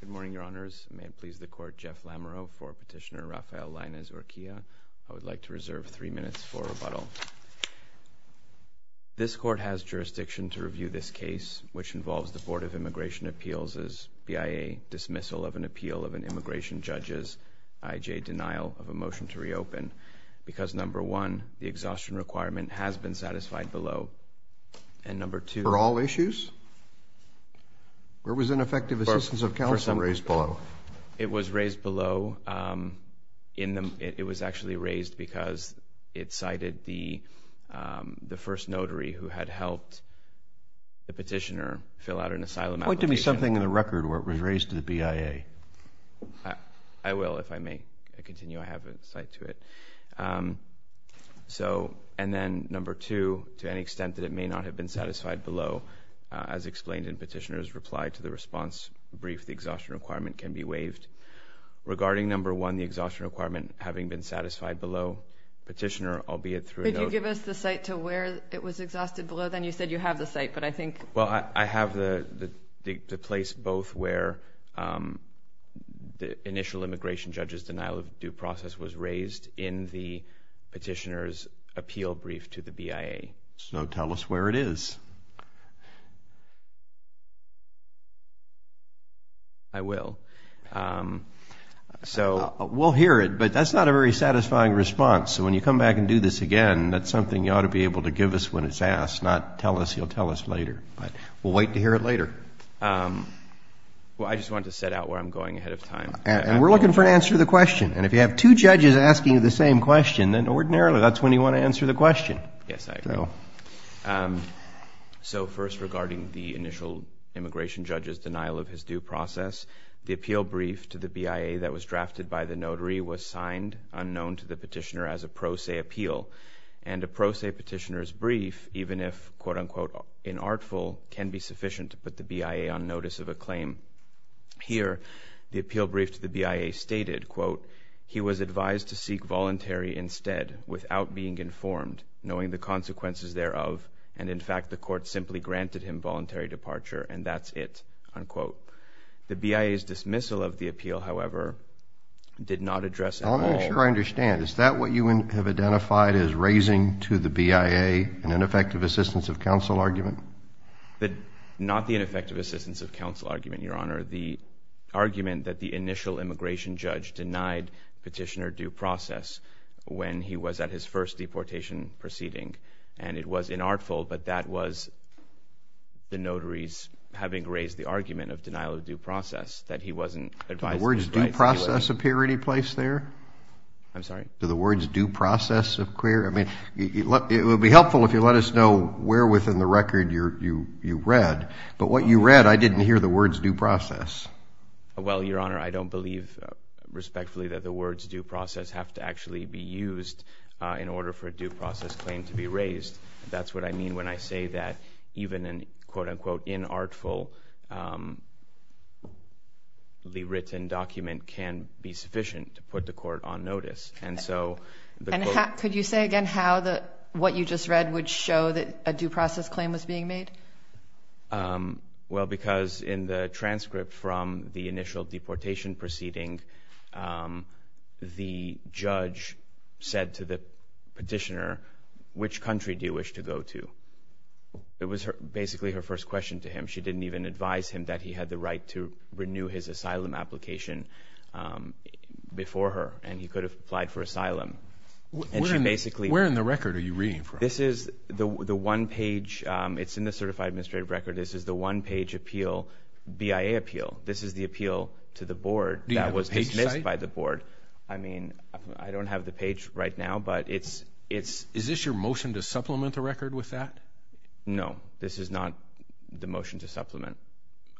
Good morning, Your Honors. May it please the Court, Jeff Lamoureux for Petitioner Rafael Lainez-Urquilla. I would like to reserve three minutes for rebuttal. This Court has jurisdiction to review this case, which involves the Board of Immigration Appeals' BIA dismissal of an appeal of an immigration judge's IJ denial of a motion to reopen, because number one, the exhaustion requirement has been satisfied below, and number two— For all issues? Where was ineffective assistance of counsel raised below? It was raised below in the—it was actually raised because it cited the first notary who had helped the petitioner fill out an asylum application. Point to me something in the record where it was raised to the BIA. I will, if I may continue. I have an insight to it. So—and then number two, to any extent that may not have been satisfied below, as explained in Petitioner's reply to the response brief, the exhaustion requirement can be waived. Regarding number one, the exhaustion requirement having been satisfied below, Petitioner, albeit through a note— Could you give us the site to where it was exhausted below? Then you said you have the site, but I think— Well, I have the place both where the initial immigration judge's denial of due process was raised in the Petitioner's appeal brief to the BIA. So tell us where it is. I will. So— We'll hear it, but that's not a very satisfying response. So when you come back and do this again, that's something you ought to be able to give us when it's asked, not tell us you'll tell us later. But we'll wait to hear it later. Well, I just wanted to set out where I'm going ahead of time. And we're looking for an answer to the question. And if you have two judges asking you the same question, then ordinarily that's when you want to answer the question. Yes, I agree. So first, regarding the initial immigration judge's denial of his due process, the appeal brief to the BIA that was drafted by the notary was signed, unknown to the Petitioner, as a pro se appeal. And a pro se Petitioner's brief, even if, quote unquote, inartful, can be sufficient to put the BIA on notice of a claim. Here, the appeal brief to the BIA stated, quote, he was advised to seek voluntary instead, without being informed, knowing the consequences thereof. And in fact, the court simply granted him voluntary departure. And that's it, unquote. The BIA's dismissal of the appeal, however, did not address at all. I'm not sure I understand. Is that what you have identified as raising to the BIA an ineffective assistance of counsel argument? Not the ineffective assistance of counsel argument, Your Honor. The argument that the initial immigration judge denied Petitioner due process when he was at his first deportation proceeding. And it was inartful, but that was the notary's having raised the argument of denial of due process, that he wasn't advised in the right situation. Do the words due process appear anyplace there? I'm sorry? Do the words due process appear? I mean, it would be helpful if you let us know where within the record you read. But what you read, I didn't hear the words due process. Well, Your Honor, I don't believe respectfully that the words due process have to actually be used in order for a due process claim to be raised. That's what I mean when I say that even an, quote, unquote, inartfully written document can be sufficient to put the court on notice. And so, could you say again how the, what you just read would show that a due process claim was being made? Well, because in the transcript from the initial deportation proceeding, the judge said to the Petitioner, which country do you wish to go to? It was basically her first question to him. She didn't even advise him that he had the right to renew his asylum application before her, and he could have applied for asylum. And she basically... Where in the record are you reading from? This is the one page, it's in the certified administrative record. This is the one page appeal, BIA appeal. This is the appeal to the board that was dismissed by the board. I mean, I don't have the page right now, but it's... Is this your motion to supplement the record with that? No, this is not the motion to supplement.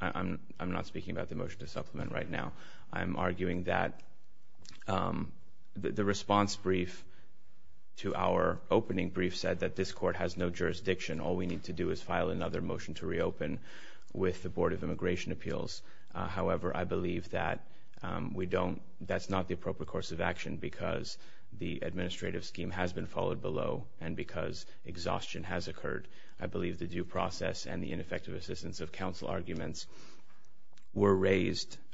I'm not speaking about the motion to supplement right now. I'm arguing that the response brief to our opening brief said that this court has no jurisdiction. All we need to do is file another motion to reopen with the Board of Immigration Appeals. However, I believe that we don't, that's not the appropriate course of action because the administrative scheme has been followed below and because exhaustion has occurred. I believe the due process and the ineffective assistance of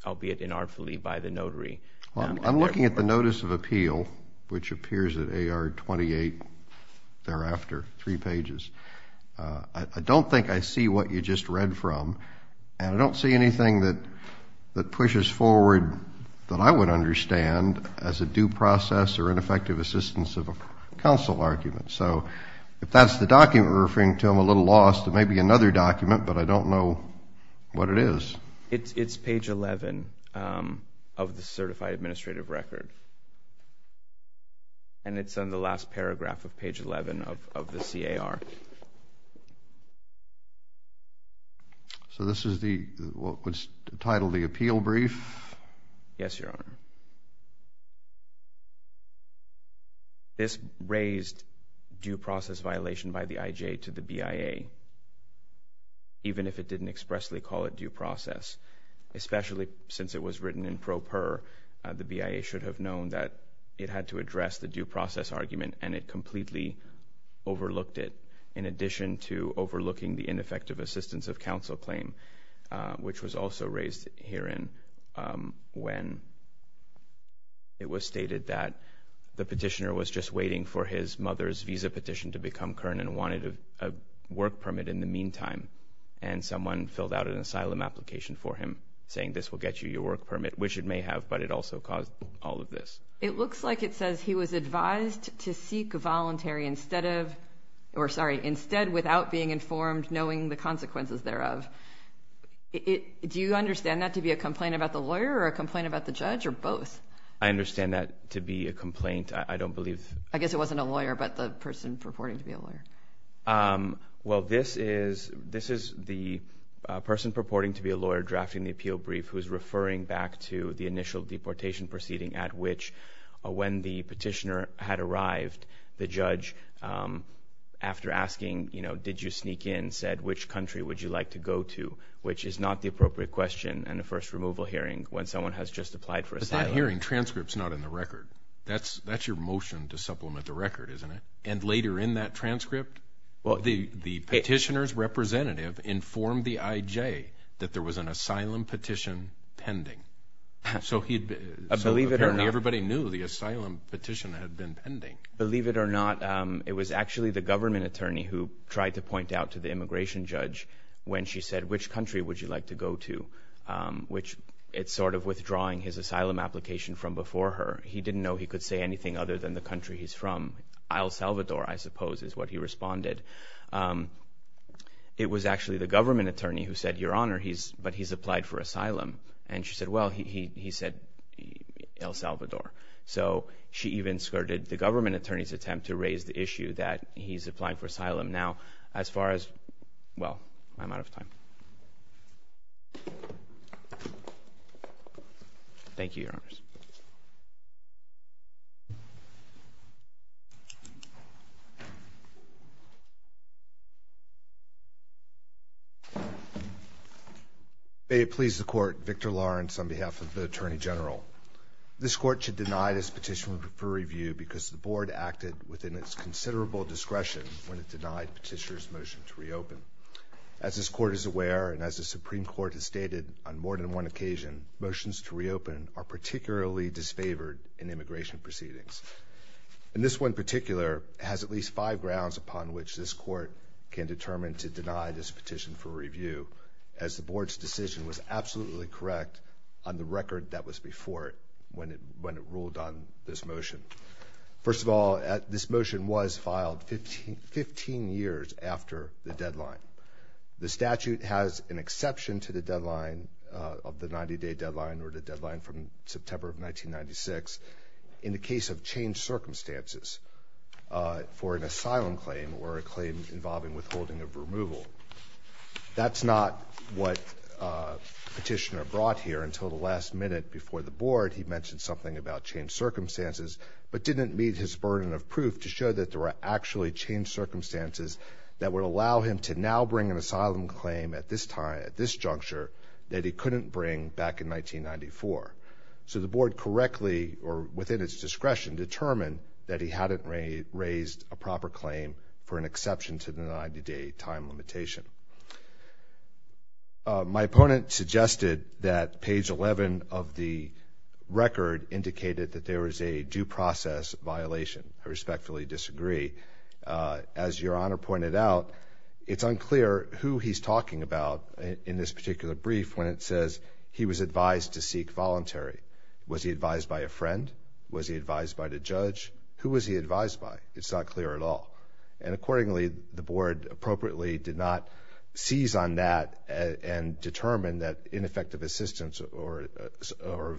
albeit inartfully by the notary. I'm looking at the notice of appeal, which appears at AR 28 thereafter, three pages. I don't think I see what you just read from, and I don't see anything that pushes forward that I would understand as a due process or ineffective assistance of a counsel argument. So if that's the document we're referring to, I'm a little lost. It may be another document, but I don't know what it is. It's page 11 of the Certified Administrative Record, and it's on the last paragraph of page 11 of the C.A.R. So this is what's titled the appeal brief? Yes, Your Honor. This raised due process violation by the I.J. to the B.I.A., even if it didn't expressly call it due process, especially since it was written in pro per. The B.I.A. should have known that it had to address the due process argument, and it completely overlooked it in addition to overlooking the ineffective assistance of counsel claim, which was also raised herein when it was stated that the petitioner was just waiting for his mother's visa petition to become current and wanted a work permit in the meantime, and someone filled out an asylum application for him, saying this will get you your work permit, which it may have, but it also caused all of this. It looks like it says he was advised to seek voluntary instead of, or sorry, instead without being informed, knowing the consequences thereof. Do you understand that to be a complaint about the lawyer or a complaint about the judge, or both? I understand that to be a complaint. I don't believe... I guess it wasn't a lawyer, but the person purporting to be a lawyer. Well, this is the person purporting to be a lawyer drafting the appeal brief who's referring back to the initial deportation proceeding at which, when the petitioner had arrived, the judge, after asking, you know, did you sneak in, said which country would you like to go to, which is not the appropriate question in the first removal hearing when someone has just applied for asylum. But that hearing transcript's not in the record. That's your motion to supplement the record, isn't it? And later in that transcript, the petitioner's representative informed the IJ that there was an asylum petition pending. So, apparently, everybody knew the asylum petition had been pending. Believe it or not, it was actually the government attorney who tried to point out to the immigration judge when she said, which country would you like to go to, which it's sort of withdrawing his asylum application from before her. He didn't know he could say anything other than the country he's from. El Salvador, I suppose, is what he responded. It was actually the government attorney who said, Your Honor, but he's applied for asylum. And she said, well, he said El Salvador. So, she even skirted the government attorney's attempt to raise the issue that he's applying for asylum now as far as, well, I'm out of time. Thank you, Your Honors. May it please the Court, Victor Lawrence on behalf of the Attorney General. This Court should deny this petition for review because the Board acted within its considerable discretion petitioner's motion to reopen. As this Court is aware, and as the Supreme Court has stated on more than one occasion, motions to reopen are particularly disfavored in immigration proceedings. And this one in particular has at least five grounds upon which this Court can determine to deny this petition for review, as the Board's decision was absolutely correct on the record that was before it when it ruled on this motion. First of all, this motion was filed 15 years after the deadline. The statute has an exception to the deadline of the 90-day deadline or the deadline from September of 1996 in the case of changed circumstances for an asylum claim or a claim involving withholding of removal. That's not what the petitioner brought here until the last minute before the Board. He mentioned something about changed circumstances, but didn't meet his burden of proof to show that there were actually changed circumstances that would allow him to now bring an asylum claim at this time, at this juncture, that he couldn't bring back in 1994. So the Board correctly or within its discretion determined that he hadn't raised a proper claim for an exception to the 90-day time limitation. My opponent suggested that page 11 of the record indicated that there was a due process violation. I respectfully disagree. As Your Honor pointed out, it's unclear who he's talking about in this particular brief when it says he was advised to seek voluntary. Was he advised by a friend? Was he advised by the judge? Who was he advised by? It's not clear at all. And accordingly, the Board appropriately did not seize on that and determine that ineffective assistance or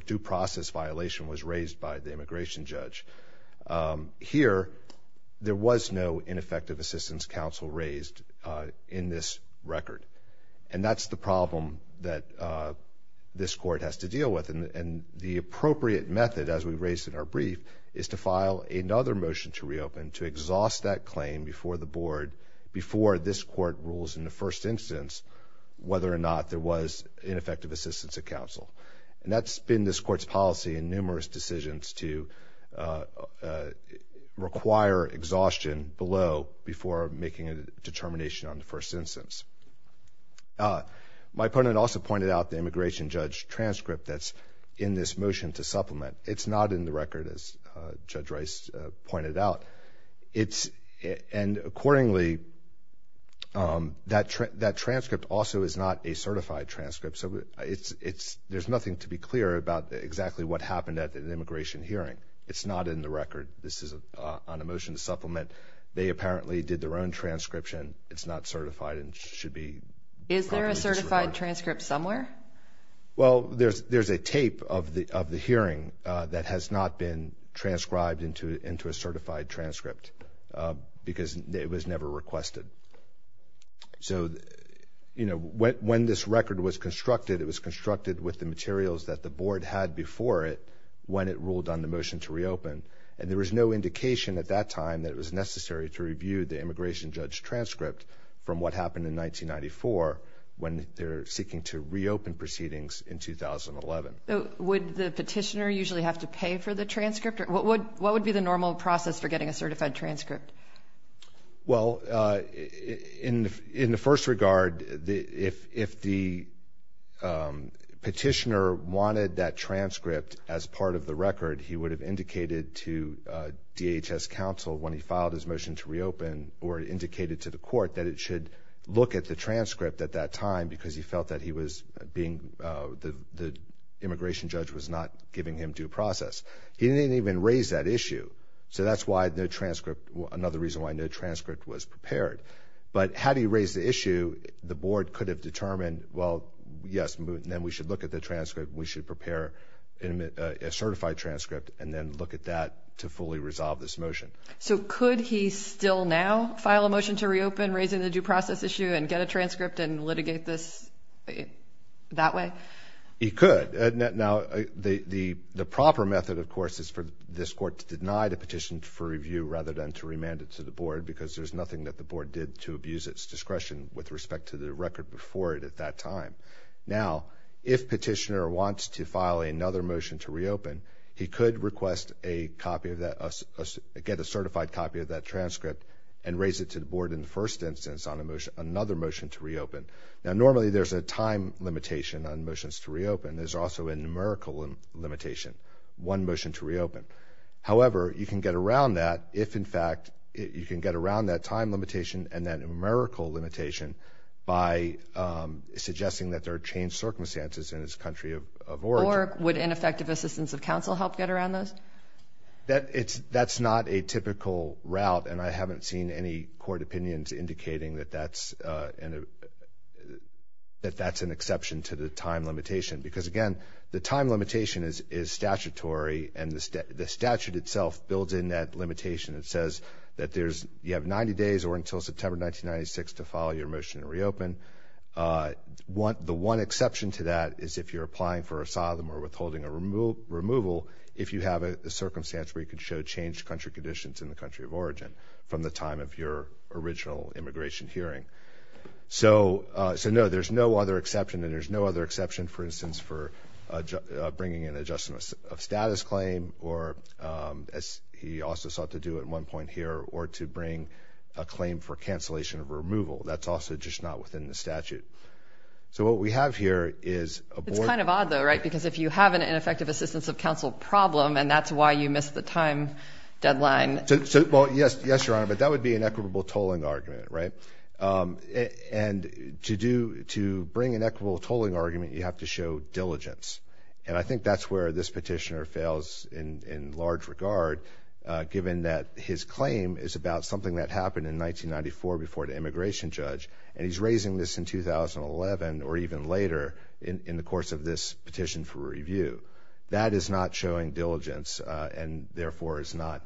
due process violation was raised by the immigration judge. Here, there was no ineffective assistance counsel raised in this record. And that's the problem that this Court has to deal with. And the appropriate method, as we raised in our brief, is to file another motion to reopen to exhaust that claim before the Board, before this Court rules in the first instance, whether or not there was ineffective assistance of counsel. And that's been this Court's policy in numerous decisions to require exhaustion below before making a determination on the first instance. My opponent also pointed out the immigration judge transcript that's in this motion to supplement. It's not in the record, as Judge Rice pointed out. And accordingly, that transcript also is not a certified transcript. So there's nothing to be clear about exactly what happened at an immigration hearing. It's not in the record. This is on a motion to supplement. They apparently did their own transcription. It's not certified and should be properly disregarded. Is there a certified transcript somewhere? Well, there's a tape of the hearing that has not been transcribed into a certified transcript because it was never requested. So, you know, when this record was constructed, it was constructed with the materials that the Board had before it when it ruled on the motion to reopen. And there was no indication at that time that it was necessary to review the immigration judge transcript from what happened in 1994 when they're seeking to reopen proceedings in 2011. Would the petitioner usually have to pay for the transcript? What would be the normal process for getting a certified transcript? Well, in the first regard, if the petitioner wanted that transcript as part of the record, he would have indicated to DHS counsel when he filed his motion to reopen or indicated to the court that it should look at the transcript at that time because he felt that he was being – the immigration judge was not giving him due process. He didn't even raise that issue. So that's why no transcript – another reason why no transcript was prepared. But had he raised the issue, the Board could have determined, well, yes, then we should look at the transcript. We should prepare a certified transcript and then look at that to fully resolve this motion. So could he still now file a motion to reopen raising the due process issue and get a transcript and litigate this that way? He could. Now, the proper method, of course, is for this court to deny the petition for review rather than to remand it to the Board because there's nothing that the Board did to abuse its discretion with respect to the record before it at that time. Now, if Petitioner wants to file another motion to reopen, he could request a copy of that – get a certified copy of that transcript and raise it to the Board in the first instance on another motion to reopen. Now, normally there's a time limitation on motions to reopen. There's also a numerical limitation – one motion to reopen. However, you can get around that if, in fact – you can get around that time limitation and that numerical limitation by suggesting that there are changed circumstances in this country of origin. Or would ineffective assistance of counsel help get around those? That's not a typical route, and I haven't seen any court opinions indicating that that's an exception to the time limitation because, again, the time limitation is statutory, and the statute itself builds in that limitation. It says that there's – you have 90 days or until September 1996 to file your motion to reopen. The one exception to that is if you're applying for asylum or withholding a removal if you have a circumstance where you could show changed country conditions in the country of origin from the time of your original immigration hearing. So no, there's no other exception, and there's no other exception, for instance, for bringing in an adjustment of status claim or – as he also sought to do at one point here – or to bring a claim for cancellation of removal. That's also just not within the statute. So what we have here is a board – It's kind of odd, though, right, because if you have an ineffective assistance of counsel problem and that's why you missed the time deadline – So – well, yes, Your Honor, but that would be an equitable tolling argument, right? And to do – to bring an equitable tolling argument, you have to show diligence. And I think that's where this petitioner fails in large regard, given that his claim is about something that happened in 1994 before the immigration judge, and he's raising this in 2011 or even later in the course of this petition for review. That is not showing diligence and therefore is not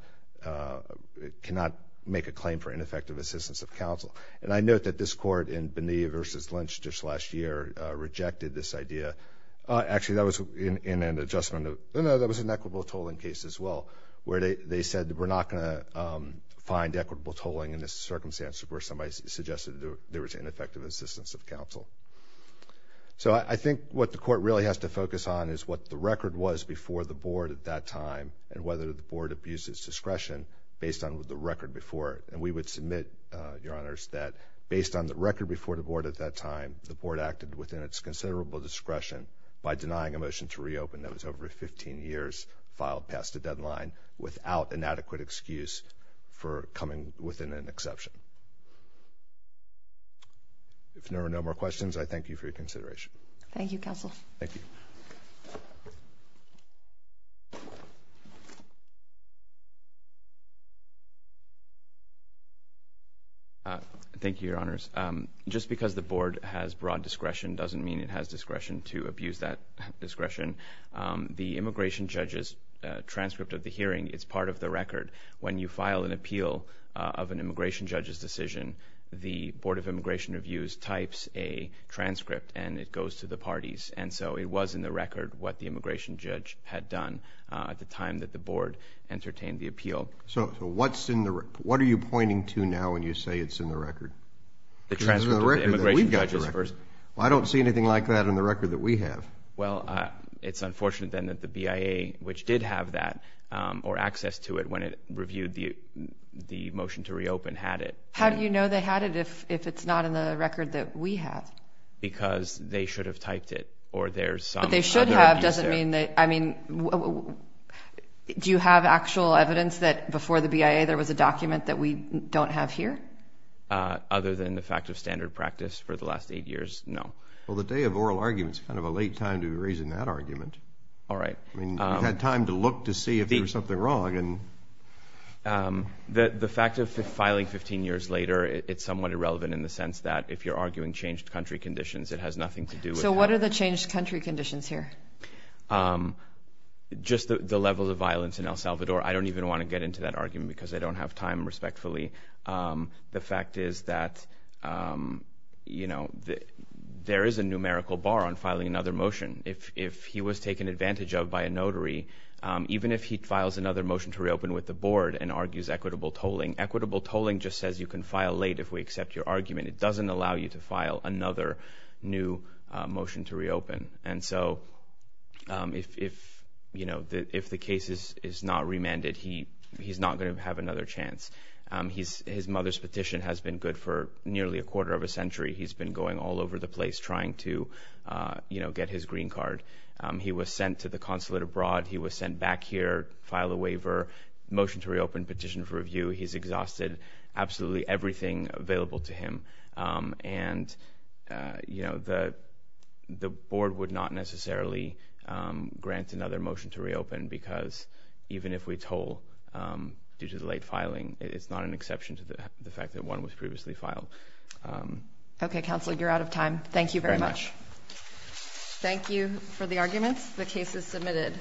– cannot make a claim for ineffective assistance of counsel. And I note that this Court in Bonilla v. Lynch just last year rejected this idea – actually, that was in an adjustment of – no, no, that was an equitable tolling case as well, where they said that we're not going to find equitable tolling in this circumstance where somebody suggested there was ineffective assistance of counsel. So I think what the Court really has to focus on is what the record was before the board at that time and whether the board abused its discretion based on the record before it. And we would submit, Your Honors, that based on the record before the board at that time, the board acted within its considerable discretion by denying a motion to reopen that was over 15 years filed past a deadline without an adequate excuse for coming within an exception. If there are no more questions, I thank you for your consideration. Thank you, Counsel. Thank you. Thank you, Your Honors. Just because the board has broad discretion doesn't mean it has discretion to abuse that discretion. The immigration judge's transcript of the hearing is part of the record. When you file an appeal of an immigration judge's decision, the Board of Immigration Reviews types a transcript and it goes to the parties. And so it was in the record what the immigration judge had done at the time that the board entertained the appeal. So what's in the – what are you pointing to now when you say it's in the record? The transcript of the immigration judge's first – The transcript of the immigration judge's first – Well, I don't see anything like that in the record that we have. Well, it's unfortunate then that the BIA, which did have that, or access to it when it reviewed the motion to reopen, had it. How do you know they had it if it's not in the record that we have? Because they should have typed it, or there's some – But they should have doesn't mean that – I mean, do you have actual evidence that before the BIA there was a document that we don't have here? Other than the fact of standard practice for the last eight years, no. Well, the day of oral argument is kind of a late time to be raising that argument. All right. I mean, we've had time to look to see if there was something wrong and – The fact of filing 15 years later, it's somewhat irrelevant in the sense that if you're arguing changed country conditions, it has nothing to do with – So what are the changed country conditions here? Just the level of violence in El Salvador. I don't even want to get into that argument because I don't have time, respectfully. The fact is that there is a numerical bar on filing another motion. If he was taken advantage of by a notary, even if he files another motion to reopen with the board and argues equitable tolling, equitable tolling just says you can file late if we accept your argument. It doesn't allow you to file another new motion to reopen. And so if the case is not remanded, he's not going to have another chance. His mother's petition has been good for nearly a quarter of a century. He's been going all over the place trying to get his green card. He was sent to the consulate abroad. He was sent back here, filed a waiver, motion to reopen, petition for review. He's exhausted absolutely everything available to him. And the board would not necessarily grant another motion to reopen because even if we toll due to the late filing, it's not an exception to the fact that one was previously filed. Okay, Counselor, you're out of time. Thank you very much. Thank you for the arguments. The case is submitted.